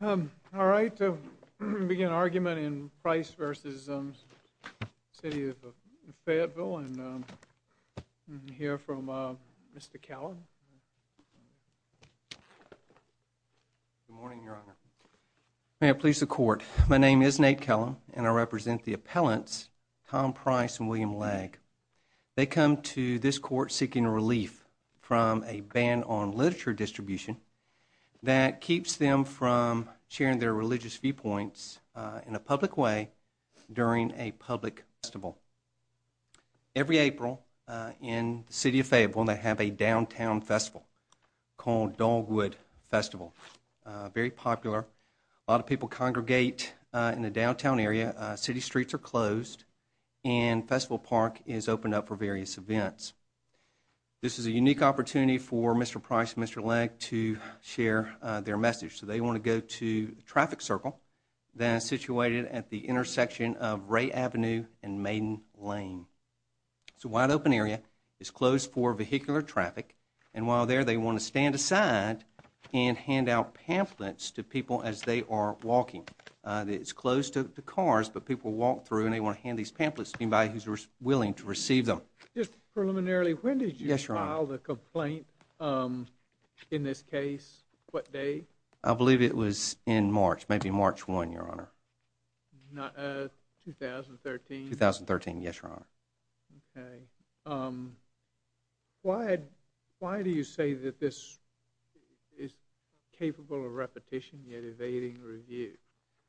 May I please the court, my name is Nate Kellum and I represent the appellants Tom Price and a ban on literature distribution that keeps them from sharing their religious viewpoints in a public way during a public festival. Every April in the City of Fayetteville they have a downtown festival called Dogwood Festival, very popular. A lot of people congregate in the downtown area, city streets are closed and Festival Park is opened up for various events. This is a unique opportunity for Mr. Price and Mr. Legg to share their message. So they want to go to traffic circle that is situated at the intersection of Ray Avenue and Maiden Lane. It's a wide open area, it's closed for vehicular traffic and while there they want to stand aside and hand out pamphlets to people as they are walking. It's closed to the cars but people walk through and they want to hand these pamphlets to anybody who's willing to receive them. Just preliminarily when did you file the complaint in this case? What day? I believe it was in March, maybe March 1, your honor. 2013? 2013, yes, your honor. Why do you say that this is capable of repetition yet evading review?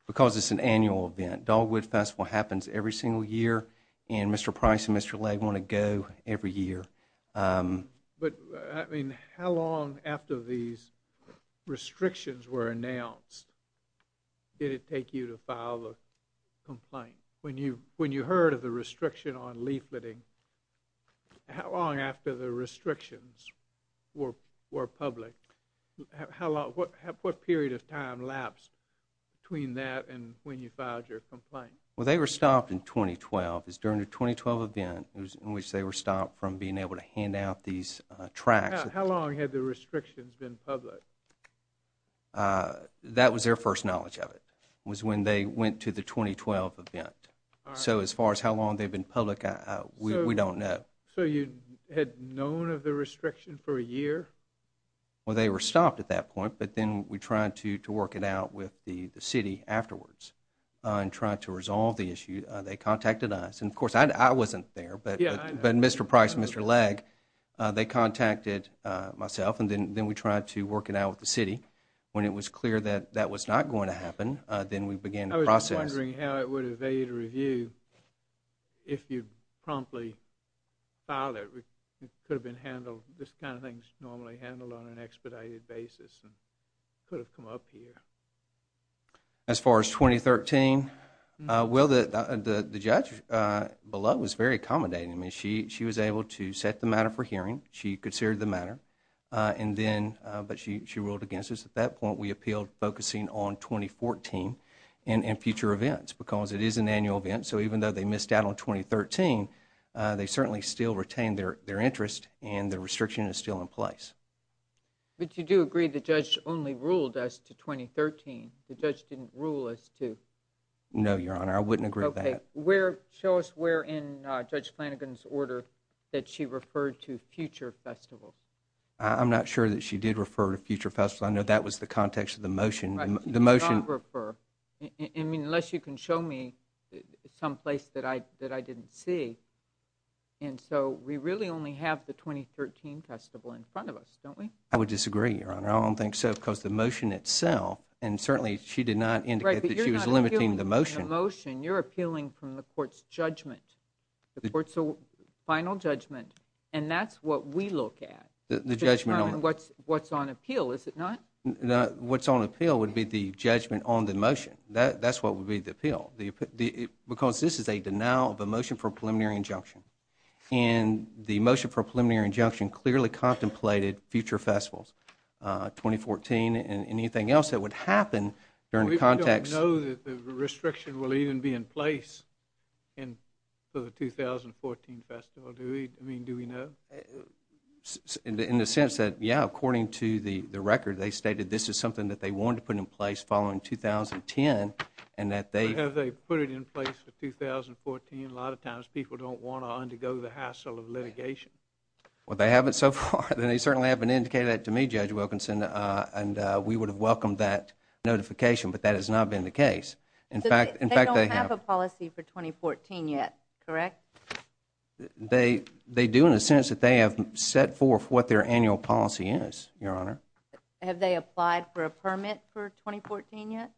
Because it's an annual event. Dogwood Festival happens every single year and Mr. Price and Mr. Legg want to go every year. But I mean how long after these restrictions were announced did it take you to file a complaint? When you heard of the restriction on leafleting, how long after the restrictions were public? What period of time lapsed between that and when you filed your complaint? Well they were stopped in being able to hand out these tracks. How long had the restrictions been public? That was their first knowledge of it, was when they went to the 2012 event. So as far as how long they've been public, we don't know. So you had known of the restriction for a year? Well they were stopped at that point but then we tried to work it out with the city afterwards and tried to resolve the issue. They contacted myself and then we tried to work it out with the city. When it was clear that that was not going to happen, then we began the process. I was wondering how it would evade review if you promptly filed it. It could have been handled, this kind of thing's normally handled on an expedited basis and could have come up here. As far as 2013, the judge below was very accommodating. She was able to set the matter for hearing, she considered the matter, but she ruled against us. At that point we appealed focusing on 2014 and future events because it is an annual event. So even though they missed out on 2013, they certainly still retained their interest and the restriction is still in No, Your Honor, I wouldn't agree with that. Okay, where, show us where in Judge Flanagan's order that she referred to future festivals. I'm not sure that she did refer to future festivals. I know that was the context of the motion. I mean, unless you can show me someplace that I didn't see. And so we really only have the 2013 festival in front of us, don't we? I would disagree, Your Honor. I don't think so because the motion itself, and certainly she did not indicate that she was limiting the motion. The motion, you're appealing from the court's judgment. The court's final judgment and that's what we look at. The judgment on it. It's not what's on appeal, is it not? What's on appeal would be the judgment on the motion. That's what would be the appeal. Because this is a denial of a motion for a preliminary injunction. And the motion for a preliminary injunction clearly contemplated future festivals, 2014 and anything else that would happen during the context. Do we know that the restriction will even be in place for the 2014 festival? I mean, do we know? In the sense that, yeah, according to the record, they stated this is something that they wanted to put in place following 2010 and that they Have they put it in place for 2014? A lot of times people don't want to undergo the hassle of litigation. Well, they haven't so far. They certainly haven't indicated that to me, Judge Wilkinson, and we would have welcomed that notification, but that has not been the case. They don't have a policy for 2014 yet, correct? They do in the sense that they have set forth what their annual policy is, Your Honor. Have they applied for a permit for 2014 yet?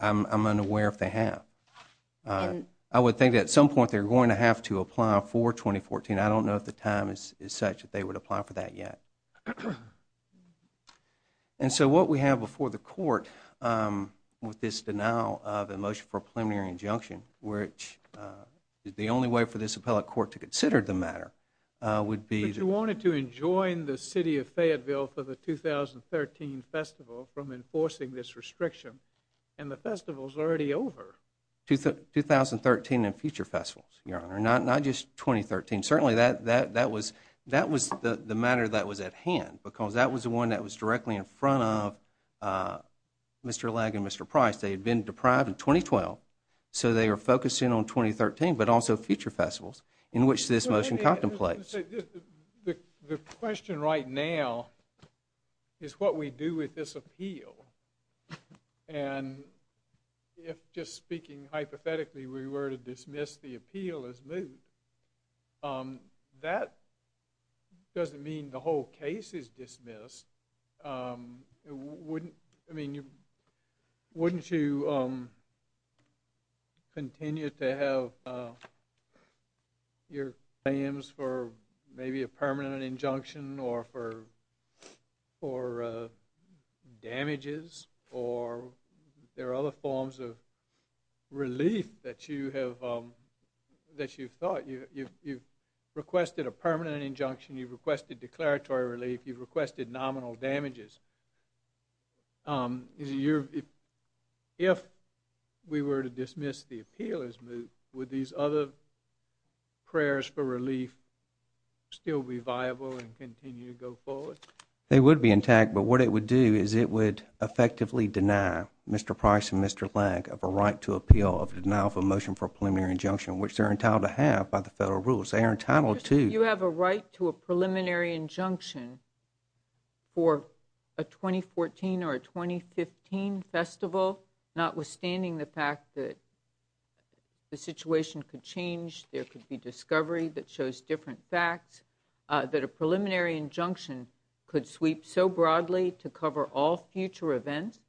I'm unaware if they have. I would think at some point they're going to have to apply for 2014. I don't know if the time is such that they would apply for that yet. And so what we have before the court with this denial of a motion for a preliminary injunction, which is the only way for this appellate court to consider the matter, would be But you wanted to enjoin the city of Fayetteville for the 2013 festival from enforcing this restriction, and the festival's already over. 2013 and future festivals, Your Honor, not just 2013. Certainly that was the matter that was at hand because that was the one that was directly in front of Mr. Legg and Mr. Price. They had been deprived in 2012, so they are focusing on 2013, but also future festivals in which this motion contemplates. The question right now is what we do with this appeal. And if, just speaking hypothetically, we were to dismiss the appeal as moved, that doesn't mean the whole case is dismissed. Wouldn't you continue to have your claims for maybe a permanent injunction, or for damages, or there are other forms of relief that you've thought? You've requested a permanent injunction, you've requested declaratory relief, you've requested nominal damages. If we were to dismiss the appeal as moved, would these other prayers for relief still be viable and continue to go forward? They would be intact, but what it would do is it would effectively deny Mr. Price and Mr. Legg of a right to appeal, of denial of a motion for a preliminary injunction, which they're entitled to have by the federal rules. They are entitled to— For a 2014 or a 2015 festival, notwithstanding the fact that the situation could change, there could be discovery that shows different facts, that a preliminary injunction could sweep so broadly to cover all future events,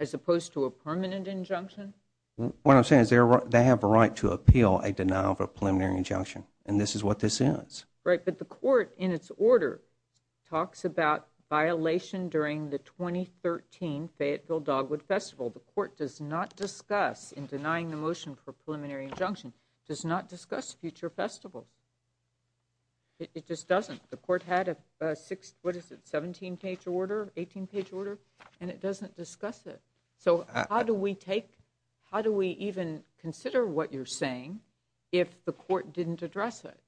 as opposed to a permanent injunction? What I'm saying is they have a right to appeal a denial of a preliminary injunction, and this is what this is. Right, but the court, in its order, talks about violation during the 2013 Fayetteville Dogwood Festival. The court does not discuss, in denying the motion for preliminary injunction, does not discuss future festivals. It just doesn't. The court had a six—what is it—17-page order, 18-page order, and it doesn't discuss it. So how do we take—how do we even consider what you're saying if the court didn't address it?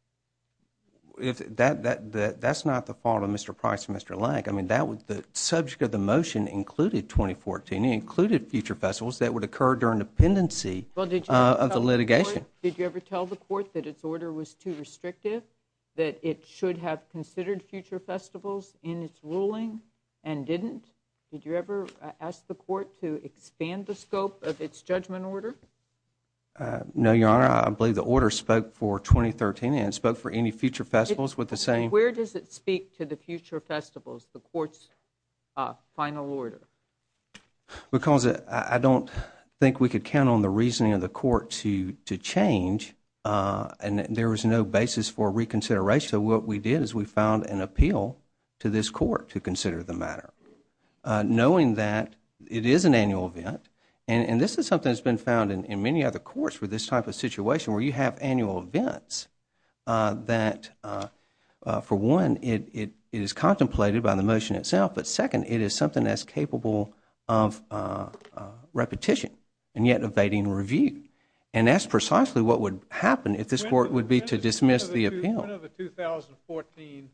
That's not the fault of Mr. Price and Mr. Legg. I mean, the subject of the motion included 2014. It included future festivals that would occur during the pendency of the litigation. Did you ever tell the court that its order was too restrictive, that it should have considered future festivals in its ruling and didn't? Did you ever ask the court to expand the scope of its judgment order? No, Your Honor. I believe the order spoke for 2013, and it spoke for any future festivals with the same— Where does it speak to the future festivals, the court's final order? Because I don't think we could count on the reasoning of the court to change, and there was no basis for reconsideration. So what we did is we filed an appeal to this court to consider the matter, knowing that it is an annual event, and this is something that's been found in many other courts for this type of situation where you have annual events that, for one, it is contemplated by the motion itself, but second, it is something that's capable of repetition and yet evading review. And that's precisely what would happen if this court would be to dismiss the appeal. When are the 2014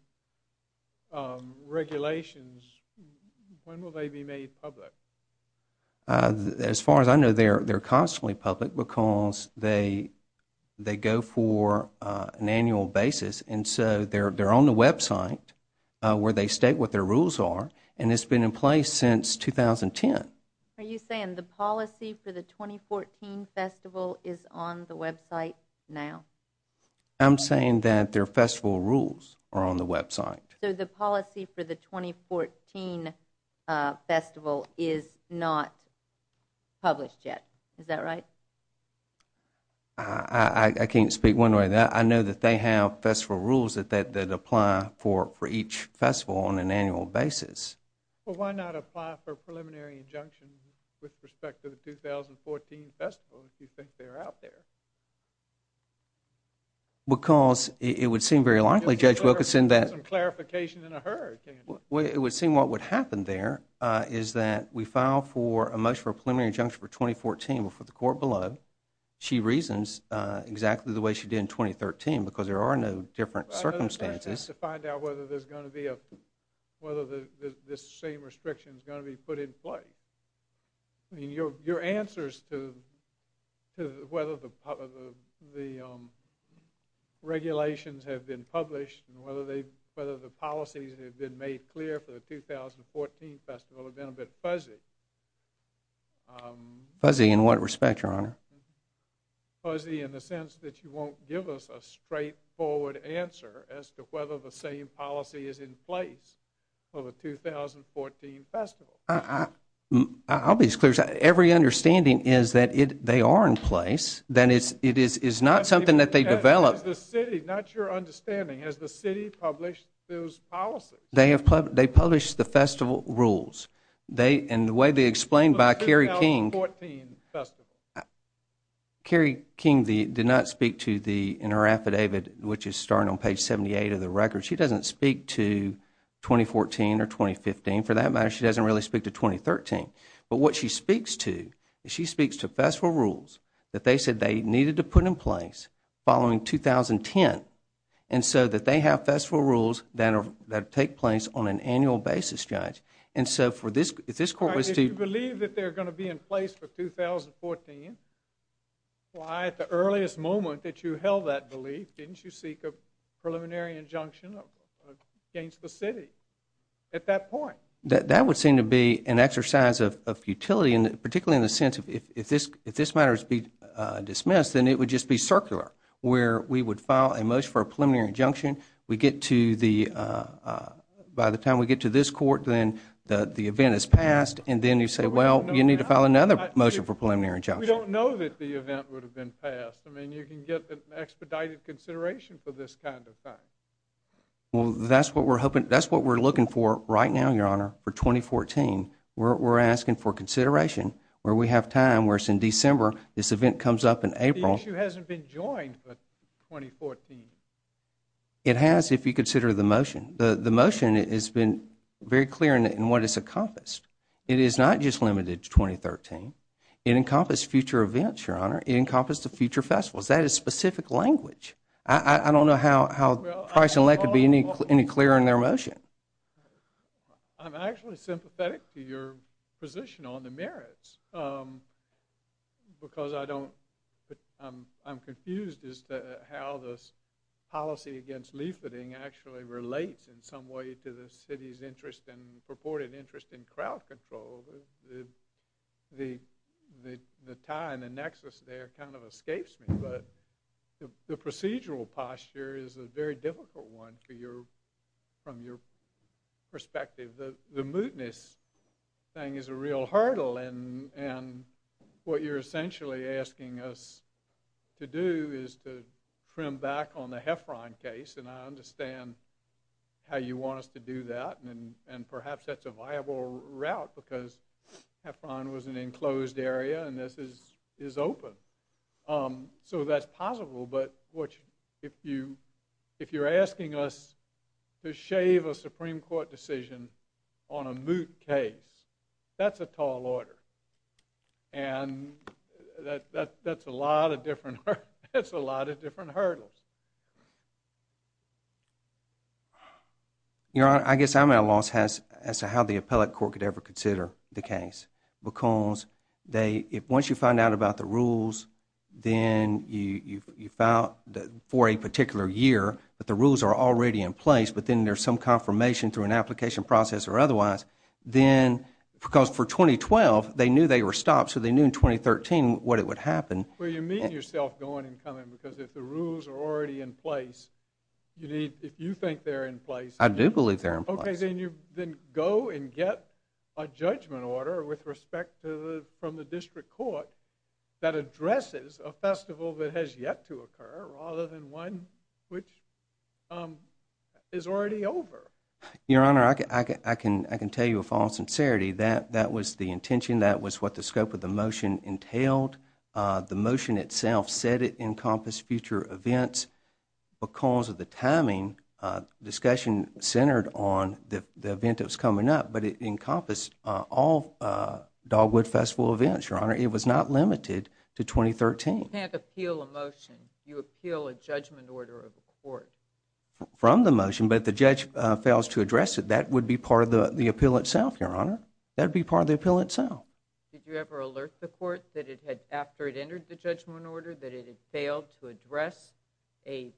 regulations—when will they be made public? As far as I know, they're constantly public because they go for an annual basis, and so they're on the website where they state what their rules are, and it's been in place since 2010. Are you saying the policy for the 2014 festival is on the website now? I'm saying that their festival rules are on the website. So the policy for the 2014 festival is not published yet, is that right? I can't speak one way or the other. I know that they have festival rules that apply for each festival on an annual basis. Well, why not apply for a preliminary injunction with respect to the 2014 festival if you think they're out there? Because it would seem very likely, Judge Wilkinson, that— Just some clarification in a hurry, can't you? It would seem what would happen there is that we file for a motion for a preliminary injunction for 2014 before the court below. She reasons exactly the way she did in 2013 because there are no different circumstances. We have to find out whether this same restriction is going to be put in place. I mean, your answers to whether the regulations have been published and whether the policies that have been made clear for the 2014 festival have been a bit fuzzy. as to whether the same policy is in place for the 2014 festival. I'll be as clear as that. Every understanding is that they are in place. That is, it is not something that they developed. Not your understanding. Has the city published those policies? They published the festival rules. And the way they explained by Kerry King— The 2014 festival. Kerry King did not speak in her affidavit, which is starting on page 78 of the record. She doesn't speak to 2014 or 2015. For that matter, she doesn't really speak to 2013. But what she speaks to is she speaks to festival rules that they said they needed to put in place following 2010 and so that they have festival rules that take place on an annual basis, Judge. And so if this court was to— Why, at the earliest moment that you held that belief, didn't you seek a preliminary injunction against the city at that point? That would seem to be an exercise of futility, particularly in the sense of if this matter is to be dismissed, then it would just be circular, where we would file a motion for a preliminary injunction. We get to the—by the time we get to this court, then the event is passed, and then you say, well, you need to file another motion for preliminary injunction. We don't know that the event would have been passed. I mean, you can get an expedited consideration for this kind of thing. Well, that's what we're hoping—that's what we're looking for right now, Your Honor, for 2014. We're asking for consideration where we have time, where it's in December. This event comes up in April. The issue hasn't been joined for 2014. It has if you consider the motion. The motion has been very clear in what it's encompassed. It is not just limited to 2013. It encompassed future events, Your Honor. It encompassed the future festivals. That is specific language. I don't know how Price and Leck could be any clearer in their motion. I'm actually sympathetic to your position on the merits because I don't— how this policy against leafleting actually relates in some way to the city's interest and purported interest in crowd control. The tie and the nexus there kind of escapes me, but the procedural posture is a very difficult one from your perspective. The mootness thing is a real hurdle, and what you're essentially asking us to do is to trim back on the Heffron case, and I understand how you want us to do that, and perhaps that's a viable route because Heffron was an enclosed area and this is open. So that's possible, but if you're asking us to shave a Supreme Court decision on a moot case, that's a tall order, and that's a lot of different hurdles. Your Honor, I guess I'm at a loss as to how the appellate court could ever consider the case because once you find out about the rules, then you file for a particular year that the rules are already in place, but then there's some confirmation through an application process or otherwise, because for 2012 they knew they were stopped, so they knew in 2013 what would happen. Well, you're meeting yourself going and coming because if the rules are already in place, if you think they're in place, then you go and get a judgment order with respect from the district court that addresses a festival that has yet to occur rather than one which is already over. Your Honor, I can tell you with all sincerity that that was the intention, that was what the scope of the motion entailed. The motion itself said it encompassed future events because of the timing discussion centered on the event that was coming up, but it encompassed all Dogwood Festival events, Your Honor. It was not limited to 2013. You can't appeal a motion. You appeal a judgment order of the court. From the motion, but if the judge fails to address it, that would be part of the appeal itself, Your Honor. That would be part of the appeal itself. Did you ever alert the court that it had, after it entered the judgment order, that it had failed to address a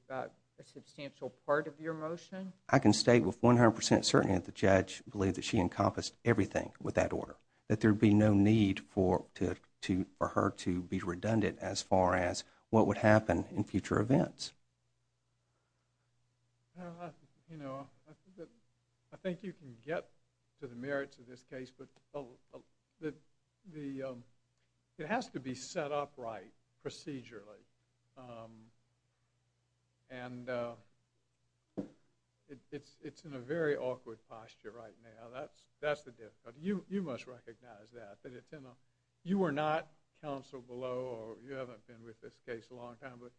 substantial part of your motion? I can state with 100% certainty that the judge believed that she encompassed everything with that order, that there would be no need for her to be redundant as far as what would happen in future events. I think you can get to the merits of this case, but it has to be set up right procedurally. It's in a very awkward posture right now. That's the difficulty. You must recognize that. You are not counsel below, or you haven't been with this case a long time, but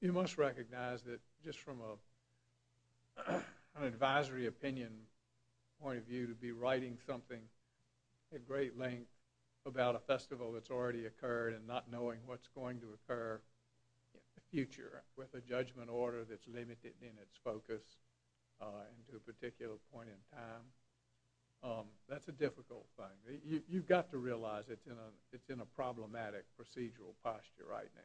you must recognize that just from an advisory opinion point of view, to be writing something at great length about a festival that's already occurred and not knowing what's going to occur in the future with a judgment order that's limited in its focus to a particular point in time. That's a difficult thing. You've got to realize it's in a problematic procedural posture right now.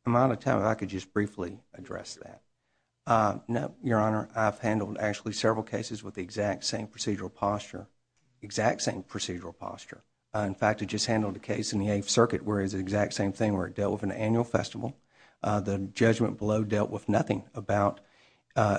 If I'm out of time, if I could just briefly address that. No, Your Honor. I've handled actually several cases with the exact same procedural posture, exact same procedural posture. In fact, I just handled a case in the Eighth Circuit where it was the exact same thing, where it dealt with an annual festival. The judgment below dealt with nothing about,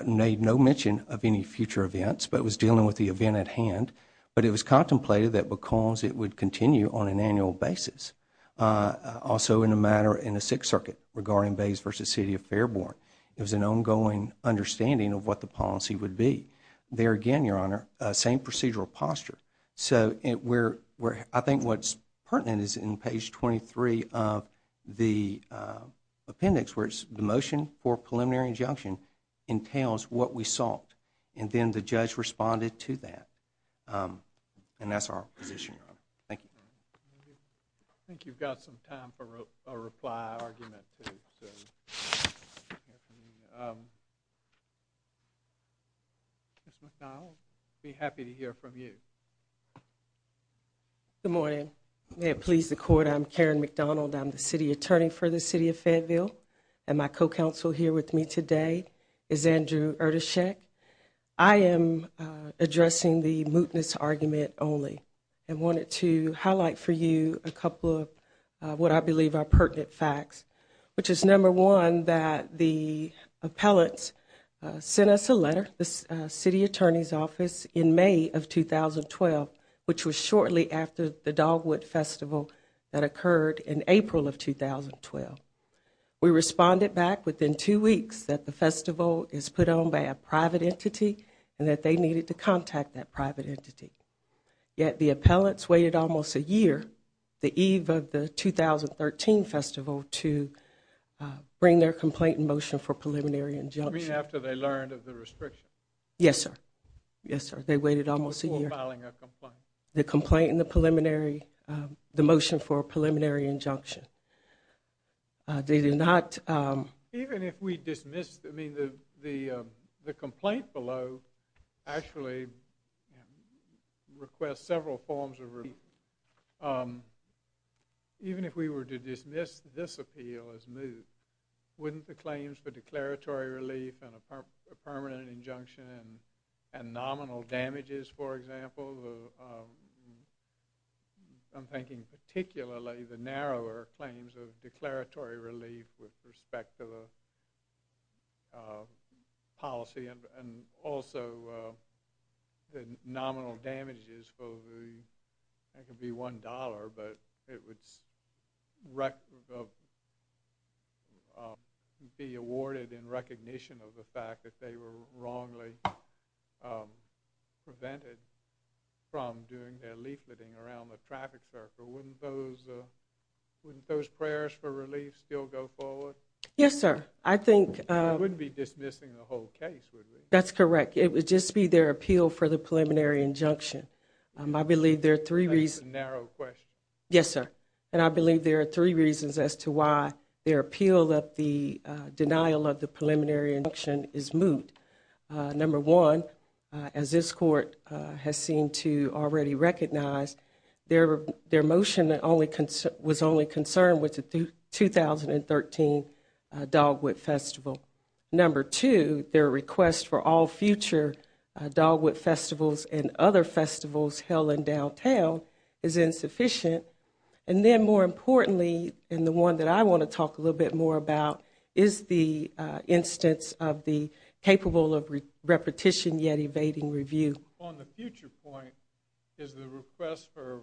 made no mention of any future events, but it was dealing with the event at hand. But it was contemplated that because it would continue on an annual basis, also in a matter in the Sixth Circuit regarding Bays v. City of Fairbourn, it was an ongoing understanding of what the policy would be. There again, Your Honor, same procedural posture. So I think what's pertinent is in page 23 of the appendix where it's the motion for preliminary injunction entails what we sought. And then the judge responded to that. And that's our position, Your Honor. Thank you. I think you've got some time for a reply argument. Ms. McDonald, I'll be happy to hear from you. Good morning. May it please the Court, I'm Karen McDonald. I'm the city attorney for the City of Fayetteville. And my co-counsel here with me today is Andrew Erdeshek. I am addressing the mootness argument only. And wanted to highlight for you a couple of what I believe are pertinent facts, which is, number one, that the appellants sent us a letter, the city attorney's office, in May of 2012, which was shortly after the Dogwood Festival that occurred in April of 2012. We responded back within two weeks that the festival is put on by a private entity and that they needed to contact that private entity. Yet the appellants waited almost a year, the eve of the 2013 festival, to bring their complaint in motion for preliminary injunction. You mean after they learned of the restriction? Yes, sir. Yes, sir. They waited almost a year. Before filing a complaint. The complaint in the preliminary, the motion for a preliminary injunction. They did not. Even if we dismissed, I mean, the complaint below actually requests several forms of relief. Even if we were to dismiss this appeal as moot, wouldn't the claims for declaratory relief and a permanent injunction and nominal damages, for example, I'm thinking particularly the narrower claims of declaratory relief with respect to the policy and also the nominal damages for the, I think it would be $1, but it would be awarded in recognition of the fact that they were wrongly prevented from doing their leafleting around the traffic circle. Wouldn't those prayers for relief still go forward? Yes, sir. I think. We wouldn't be dismissing the whole case, would we? That's correct. It would just be their appeal for the preliminary injunction. I believe there are three reasons. That's a narrow question. Yes, sir. And I believe there are three reasons as to why their appeal that the denial of the preliminary injunction is moot. Number one, as this court has seemed to already recognize, their motion was only concerned with the 2013 Dogwood Festival. Number two, their request for all future Dogwood Festivals and other festivals held in downtown is insufficient. And then more importantly, and the one that I want to talk a little bit more about, is the instance of the capable of repetition yet evading review. On the future point, is the request for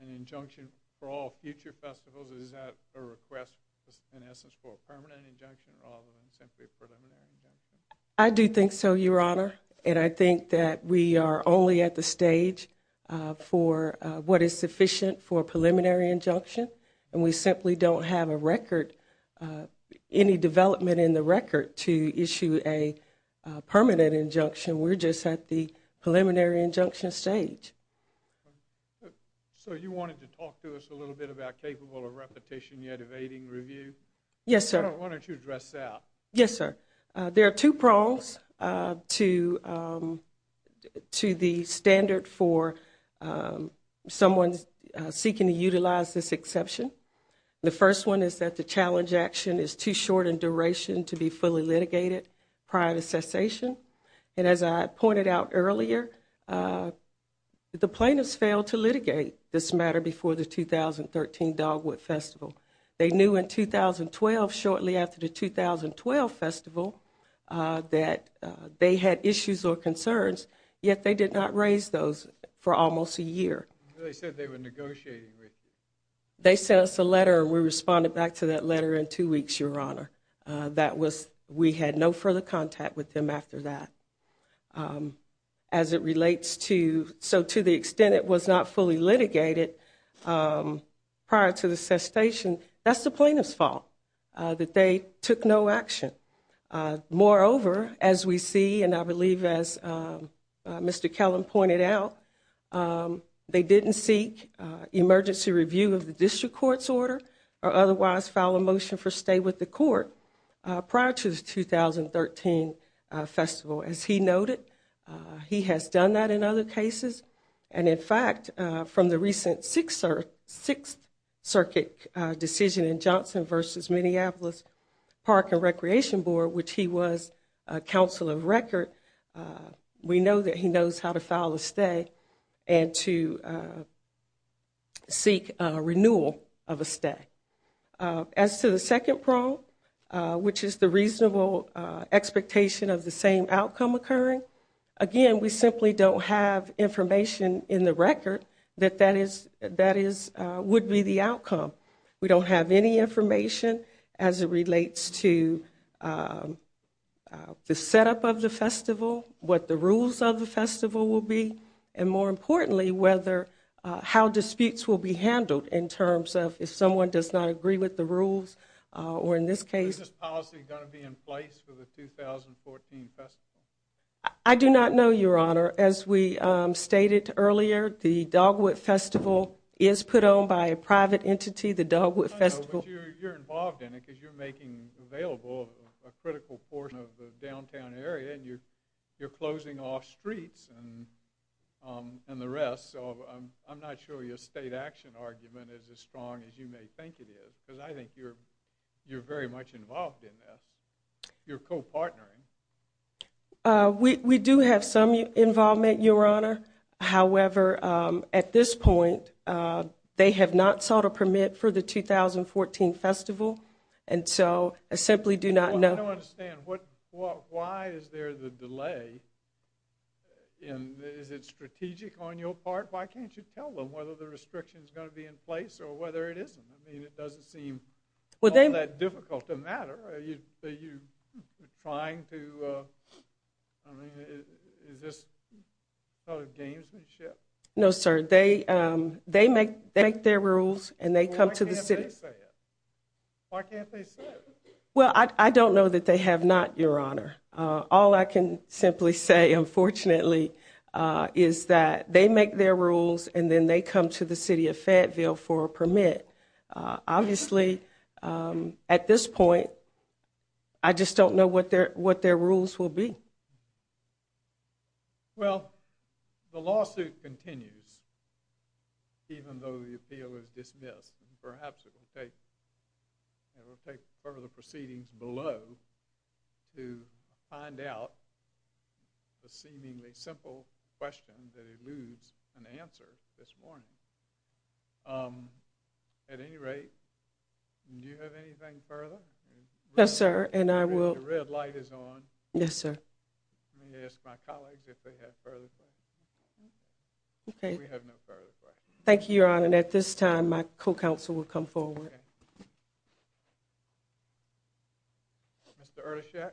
an injunction for all future festivals, is that a request in essence for a permanent injunction rather than simply a preliminary injunction? I do think so, Your Honor. And I think that we are only at the stage for what is sufficient for a preliminary injunction, and we simply don't have a record, any development in the record to issue a permanent injunction. We're just at the preliminary injunction stage. So you wanted to talk to us a little bit about capable of repetition yet evading review? Yes, sir. Why don't you address that? Yes, sir. There are two prongs to the standard for someone seeking to utilize this exception. The first one is that the challenge action is too short in duration to be fully litigated prior to cessation. And as I pointed out earlier, the plaintiffs failed to litigate this matter before the 2013 Dogwood Festival. They knew in 2012, shortly after the 2012 festival, that they had issues or concerns, yet they did not raise those for almost a year. They said they were negotiating with you. They sent us a letter, and we responded back to that letter in two weeks, Your Honor. We had no further contact with them after that. So to the extent it was not fully litigated prior to the cessation, that's the plaintiff's fault, that they took no action. Moreover, as we see, and I believe as Mr. Kellum pointed out, they didn't seek emergency review of the district court's order or otherwise file a motion for stay with the court prior to the 2013 festival. As he noted, he has done that in other cases. And, in fact, from the recent Sixth Circuit decision in Johnson v. Minneapolis Park and Recreation Board, which he was counsel of record, we know that he knows how to file a stay and to seek renewal of a stay. As to the second problem, which is the reasonable expectation of the same outcome occurring, again, we simply don't have information in the record that that would be the outcome. We don't have any information as it relates to the setup of the festival, what the rules of the festival will be, and more importantly how disputes will be handled in terms of if someone does not agree with the rules or in this case Is this policy going to be in place for the 2014 festival? I do not know, Your Honor. As we stated earlier, the Dogwood Festival is put on by a private entity, the Dogwood Festival. I know, but you're involved in it because you're making available a critical portion of the downtown area and you're closing off streets and the rest. So I'm not sure your state action argument is as strong as you may think it is because I think you're very much involved in this. You're co-partnering. We do have some involvement, Your Honor. However, at this point, they have not sought a permit for the 2014 festival, and so I simply do not know. I don't understand. Why is there the delay? Is it strategic on your part? Why can't you tell them whether the restriction is going to be in place or whether it isn't? I mean, it doesn't seem all that difficult to matter. Are you trying to, I mean, is this sort of gamesmanship? No, sir. They make their rules and they come to the city. Why can't they say it? Why can't they say it? Well, I don't know that they have not, Your Honor. All I can simply say, unfortunately, is that they make their rules and then they come to the city of Fayetteville for a permit. Obviously, at this point, I just don't know what their rules will be. Well, the lawsuit continues even though the appeal is dismissed. Perhaps it will take further proceedings below to find out the seemingly simple question that eludes an answer this morning. At any rate, do you have anything further? No, sir, and I will. The red light is on. Yes, sir. Let me ask my colleagues if they have further questions. Okay. We have no further questions. Thank you, Your Honor, and at this time, my co-counsel will come forward. Mr. Ertashek,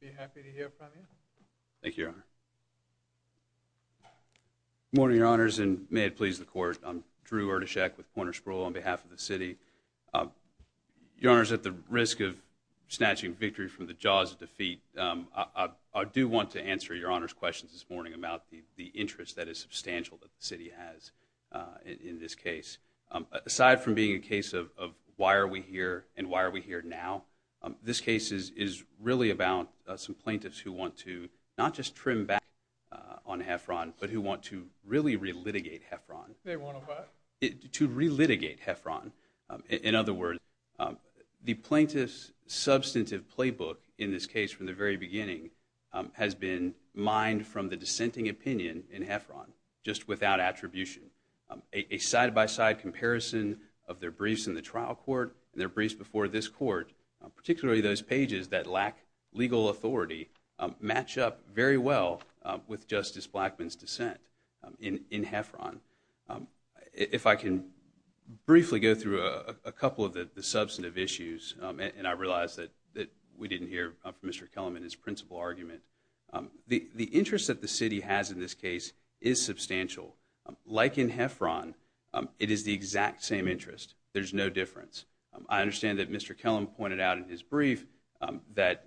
be happy to hear from you. Thank you, Your Honor. Good morning, Your Honors, and may it please the Court. I'm Drew Ertashek with Poynter Spruill on behalf of the city. Your Honor, at the risk of snatching victory from the jaws of defeat, I do want to answer Your Honor's questions this morning about the interest that is substantial that the city has in this case. Aside from being a case of why are we here and why are we here now, this case is really about some plaintiffs who want to not just trim back on Heffron but who want to really relitigate Heffron. They want to what? To relitigate Heffron. In other words, the plaintiff's substantive playbook in this case from the very beginning has been mined from the dissenting opinion in Heffron just without attribution. A side-by-side comparison of their briefs in the trial court and their briefs before this court, particularly those pages that lack legal authority, match up very well with Justice Blackmun's dissent in Heffron. If I can briefly go through a couple of the substantive issues, and I realize that we didn't hear from Mr. Kellerman his principal argument, the interest that the city has in this case is substantial. Like in Heffron, it is the exact same interest. There's no difference. I understand that Mr. Kellerman pointed out in his brief that,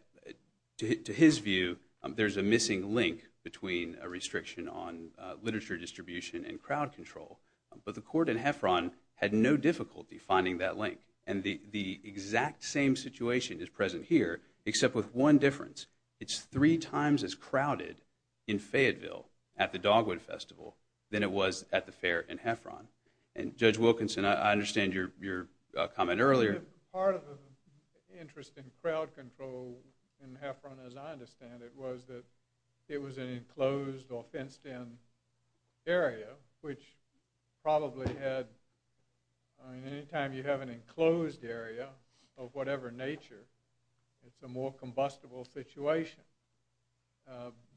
to his view, there's a missing link between a restriction on literature distribution and crowd control. But the court in Heffron had no difficulty finding that link, and the exact same situation is present here except with one difference. It's three times as crowded in Fayetteville at the Dogwood Festival than it was at the fair in Heffron. And Judge Wilkinson, I understand your comment earlier. Part of the interest in crowd control in Heffron, as I understand it, was that it was an enclosed or fenced-in area, which probably had, I mean, anytime you have an enclosed area of whatever nature, it's a more combustible situation.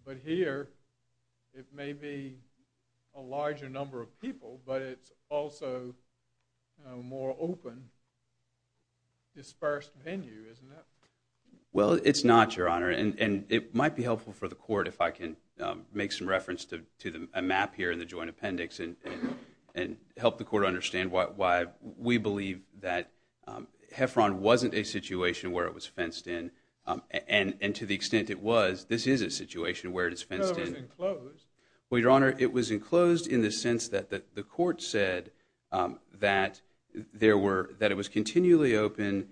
But here, it may be a larger number of people, but it's also a more open, dispersed venue, isn't it? Well, it's not, Your Honor, and it might be helpful for the court if I can make some reference to a map here in the joint appendix and help the court understand why we believe that Heffron wasn't a situation where it was fenced-in, and to the extent it was, this is a situation where it is fenced-in. No, it was enclosed. Well, Your Honor, it was enclosed in the sense that the court said that it was continually open,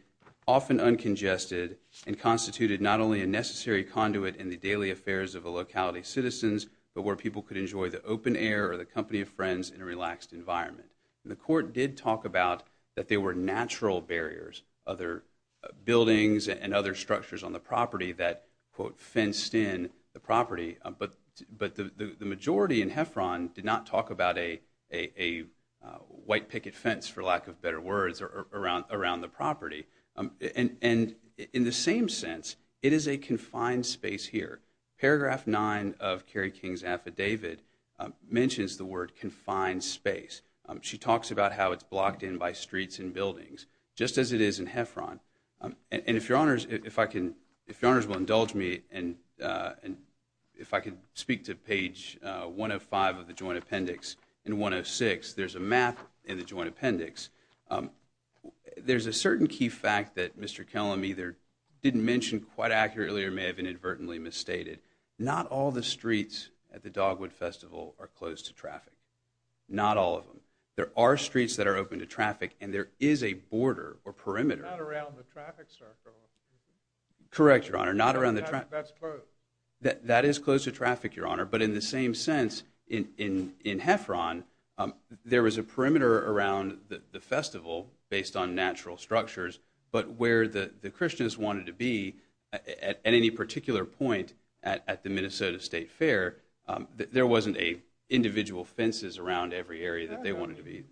often uncongested, and constituted not only a necessary conduit in the daily affairs of the locality citizens, but where people could enjoy the open air or the company of friends in a relaxed environment. The court did talk about that there were natural barriers, other buildings and other structures on the property that, quote, fenced in the property, but the majority in Heffron did not talk about a white picket fence, for lack of better words, around the property. And in the same sense, it is a confined space here. Paragraph 9 of Kerry King's affidavit mentions the word confined space. She talks about how it's blocked in by streets and buildings, just as it is in Heffron. And if Your Honors will indulge me and if I could speak to page 105 of the Joint Appendix. In 106, there's a map in the Joint Appendix. There's a certain key fact that Mr. Kellum either didn't mention quite accurately or may have inadvertently misstated. Not all the streets at the Dogwood Festival are closed to traffic. Not all of them. There are streets that are open to traffic, and there is a border or perimeter. Not around the traffic circle. Correct, Your Honor, not around the traffic. That's closed. That is closed to traffic, Your Honor, but in the same sense, in Heffron, there was a perimeter around the festival based on natural structures, but where the Christians wanted to be, at any particular point at the Minnesota State Fair, there wasn't individual fences around every area that they wanted to be.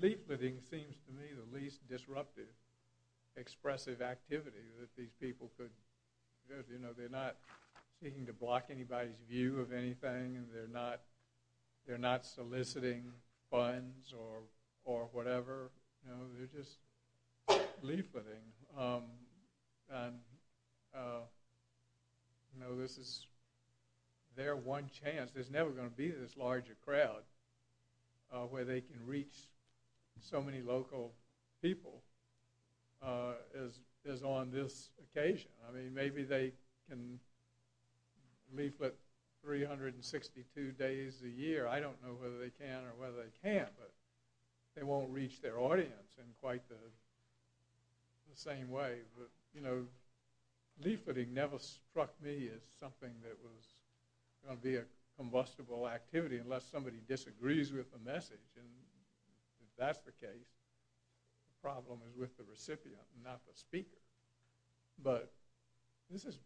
Leafleting seems to me the least disruptive, expressive activity that these people could do. They're not seeking to block anybody's view of anything. They're not soliciting funds or whatever. They're just leafleting. This is their one chance. There's never going to be this larger crowd where they can reach so many local people as on this occasion. Maybe they can leaflet 362 days a year. I don't know whether they can or whether they can't, but they won't reach their audience in quite the same way. Leafleting never struck me as something that was going to be a combustible activity unless somebody disagrees with the message. If that's the case, the problem is with the recipient, not the speaker. But this is,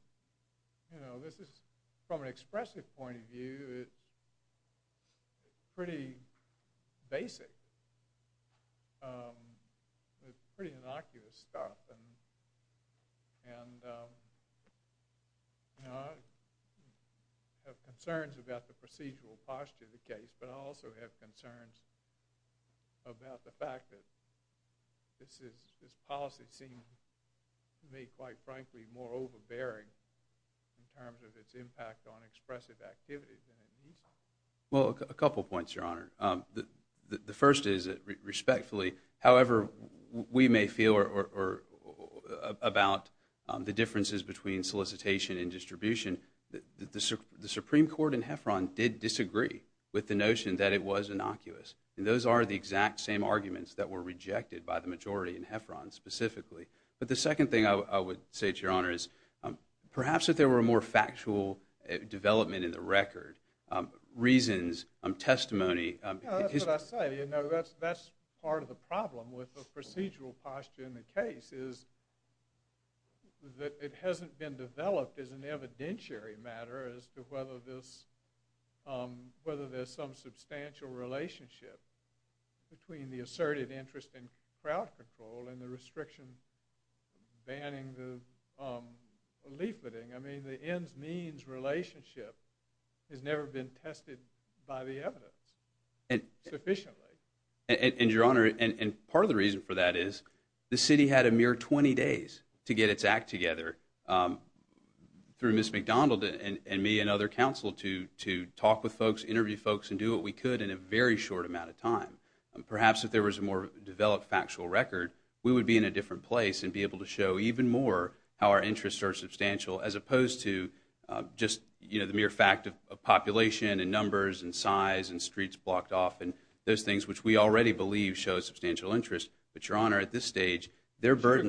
from an expressive point of view, it's pretty basic. It's pretty innocuous stuff. I have concerns about the procedural posture of the case, but I also have concerns about the fact that this policy seems to me, quite frankly, more overbearing in terms of its impact on expressive activities. Well, a couple points, Your Honor. The first is that, respectfully, however we may feel about the differences between solicitation and distribution, the Supreme Court in Heffron did disagree with the notion that it was innocuous. Those are the exact same arguments that were rejected by the majority in Heffron specifically. But the second thing I would say to Your Honor is perhaps if there were a more factual development in the record, reasons, testimony. That's what I say. That's part of the problem with the procedural posture in the case, is that it hasn't been developed as an evidentiary matter as to whether there's some substantial relationship between the asserted interest in crowd control and the restriction banning the leafleting. The ends-means relationship has never been tested by the evidence sufficiently. And, Your Honor, part of the reason for that is the city had a mere 20 days to get its act together through Ms. McDonald and me and other counsel to talk with folks, interview folks, and do what we could in a very short amount of time. Perhaps if there was a more developed factual record, we would be in a different place and be able to show even more how our interests are substantial as opposed to just the mere fact of population and numbers and size and streets blocked off and those things which we already believe show substantial interest. But, Your Honor, at this stage, their burden...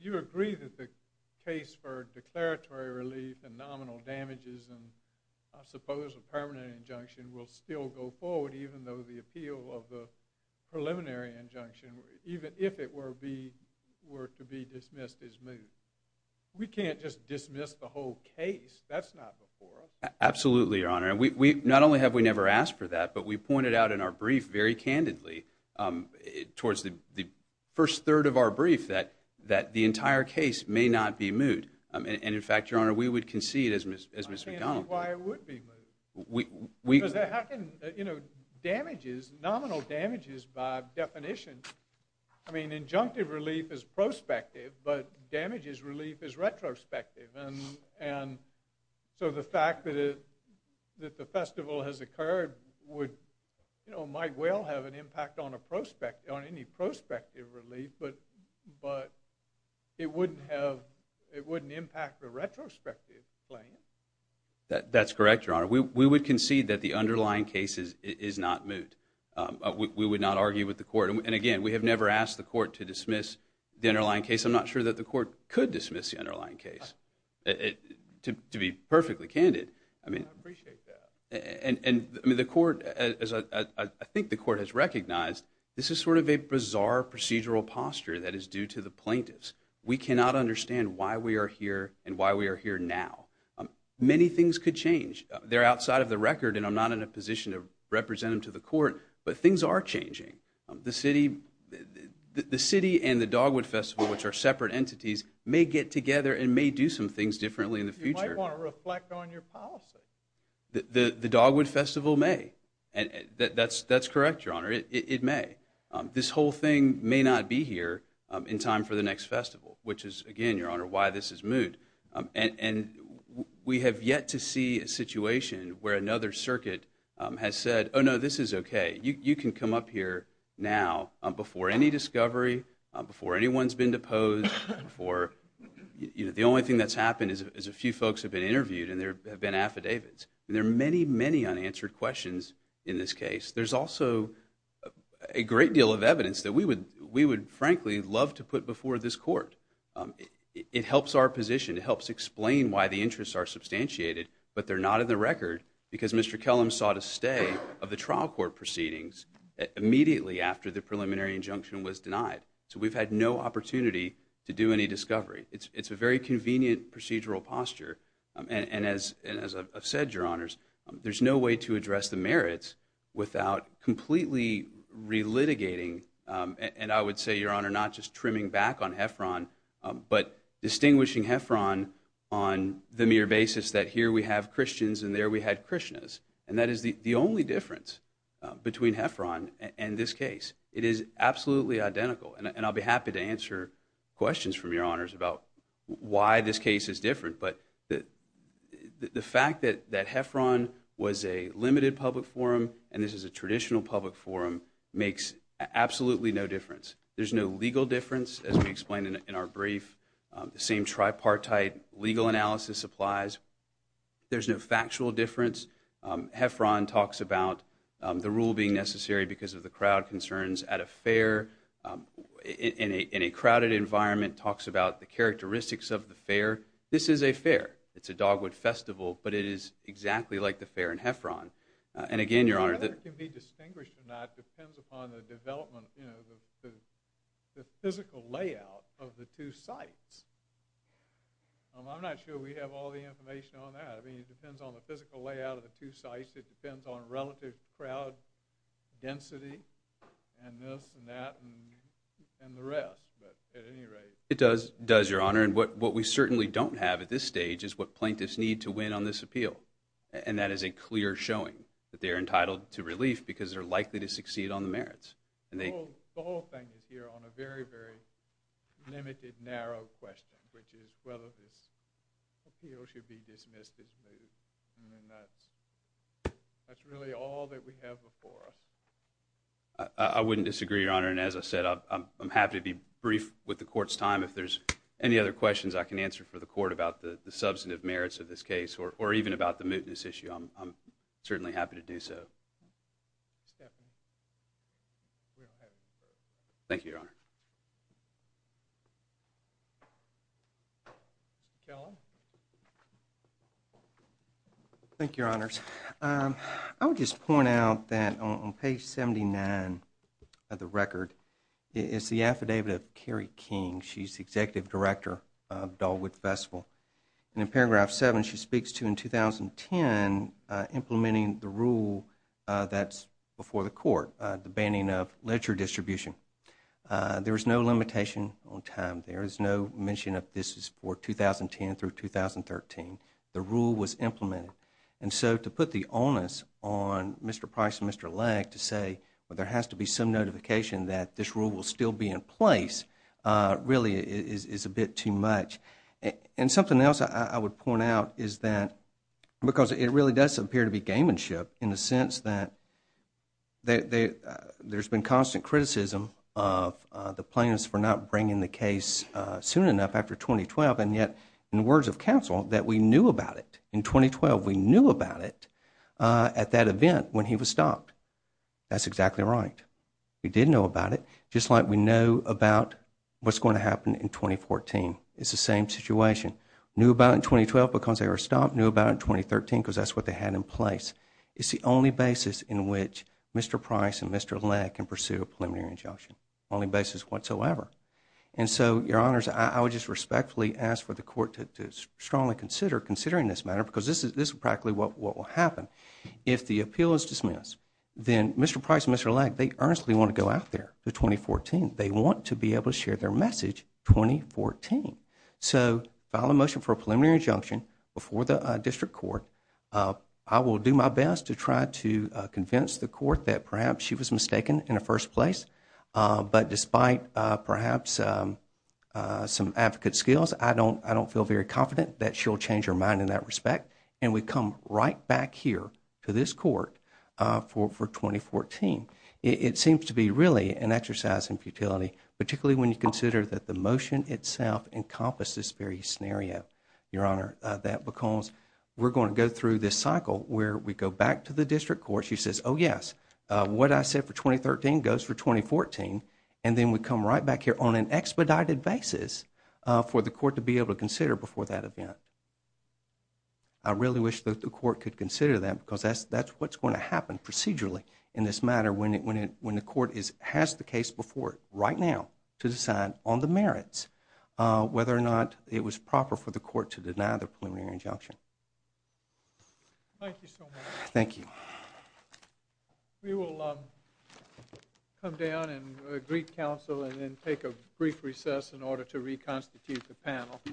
You agree that the case for declaratory relief and nominal damages and, I suppose, a permanent injunction will still go forward even though the appeal of the preliminary injunction, even if it were to be dismissed, is moved. We can't just dismiss the whole case. That's not the forum. Absolutely, Your Honor. Not only have we never asked for that, but we pointed out in our brief very candidly towards the first third of our brief that the entire case may not be moved. And, in fact, Your Honor, we would concede, as Ms. McDonald... I can't see why it would be moved. We... Because how can, you know, damages, nominal damages by definition... I mean, injunctive relief is prospective, but damages relief is retrospective. And so the fact that the festival has occurred would, you know, might well have an impact on any prospective relief, but it wouldn't impact the retrospective claim. That's correct, Your Honor. We would concede that the underlying case is not moved. We would not argue with the court. And, again, we have never asked the court to dismiss the underlying case. I'm not sure that the court could dismiss the underlying case, to be perfectly candid. I mean... I appreciate that. And the court, as I think the court has recognized, this is sort of a bizarre procedural posture that is due to the plaintiffs. We cannot understand why we are here and why we are here now. Many things could change. They're outside of the record, and I'm not in a position to represent them to the court, but things are changing. The city and the Dogwood Festival, which are separate entities, may get together and may do some things differently in the future. You might want to reflect on your policy. The Dogwood Festival may. That's correct, Your Honor. It may. This whole thing may not be here in time for the next festival, which is, again, Your Honor, why this is moved. And we have yet to see a situation where another circuit has said, oh, no, this is okay, you can come up here now before any discovery, before anyone's been deposed, before... The only thing that's happened is a few folks have been interviewed and there have been affidavits. And there are many, many unanswered questions in this case. There's also a great deal of evidence that we would, frankly, love to put before this court. It helps our position. It helps explain why the interests are substantiated, but they're not in the record, because Mr. Kellum sought a stay of the trial court proceedings immediately after the preliminary injunction was denied. So we've had no opportunity to do any discovery. It's a very convenient procedural posture. And as I've said, Your Honors, there's no way to address the merits without completely relitigating, and I would say, Your Honor, not just trimming back on Heffron, but distinguishing Heffron on the mere basis that here we have Christians and there we had Krishnas. And that is the only difference between Heffron and this case. It is absolutely identical. And I'll be happy to answer questions from Your Honors about why this case is different, but the fact that Heffron was a limited public forum and this is a traditional public forum makes absolutely no difference. There's no legal difference, as we explained in our brief. The same tripartite legal analysis applies. There's no factual difference. Heffron talks about the rule being necessary because of the crowd concerns at a fair, in a crowded environment, talks about the characteristics of the fair. This is a fair. It's a Dogwood Festival, but it is exactly like the fair in Heffron. And again, Your Honor... Whether it can be distinguished or not depends upon the development, you know, the physical layout of the two sites. I'm not sure we have all the information on that. I mean, it depends on the physical layout of the two sites. It depends on relative crowd density and this and that and the rest. But at any rate... It does, Your Honor, and what we certainly don't have at this stage is what plaintiffs need to win on this appeal, and that is a clear showing that they are entitled to relief because they're likely to succeed on the merits. The whole thing is here on a very, very limited, narrow question, which is whether this appeal should be dismissed as moot. I mean, that's really all that we have before us. I wouldn't disagree, Your Honor, and as I said, I'm happy to be brief with the Court's time. If there's any other questions I can answer for the Court about the substantive merits of this case or even about the mootness issue, I'm certainly happy to do so. Thank you, Your Honor. Thank you, Your Honors. I would just point out that on page 79 of the record is the affidavit of Kerry King. She's the executive director of Dahlwit Festival. In paragraph 7, she speaks to, in 2010, implementing the rule that's before the Court, the banning of ledger distribution. There is no limitation on time. There is no mention of this is for 2010 through 2013. The rule was implemented. And so to put the onus on Mr. Price and Mr. Legg to say, well, there has to be some notification that this rule will still be in place really is a bit too much. And something else I would point out is that because it really does appear to be gamemanship in the sense that there's been constant criticism of the plaintiffs for not bringing the case soon enough after 2012 and yet, in the words of counsel, that we knew about it. In 2012, we knew about it at that event when he was stopped. That's exactly right. We did know about it. Just like we know about what's going to happen in 2014. It's the same situation. Knew about it in 2012 because they were stopped. Knew about it in 2013 because that's what they had in place. It's the only basis in which Mr. Price and Mr. Legg can pursue a preliminary injunction. Only basis whatsoever. And so, Your Honors, I would just respectfully ask for the Court to strongly consider considering this matter because this is practically what will happen. If the appeal is dismissed, then Mr. Price and Mr. Legg, they earnestly want to go out there for 2014. They want to be able to share their message 2014. So, file a motion for a preliminary injunction before the District Court. I will do my best to try to convince the Court that perhaps she was mistaken in the first place. But despite perhaps some advocate skills, I don't feel very confident that she'll change her mind in that respect. And we come right back here to this Court for 2014. It seems to be really an exercise in futility, particularly when you consider that the motion itself encompasses this very scenario, Your Honor. That because we're going to go through this cycle where we go back to the District Court. She says, oh, yes, what I said for 2013 goes for 2014. And then we come right back here on an expedited basis for the Court to be able to consider before that event. I really wish that the Court could consider that because that's what's going to happen procedurally in this matter when the Court has the case before it right now to decide on the merits, whether or not it was proper for the Court to deny the preliminary injunction. Thank you so much. Thank you. We will come down and greet counsel and then take a brief recess in order to reconstitute the panel. This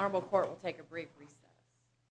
Honorable Court will take a brief recess.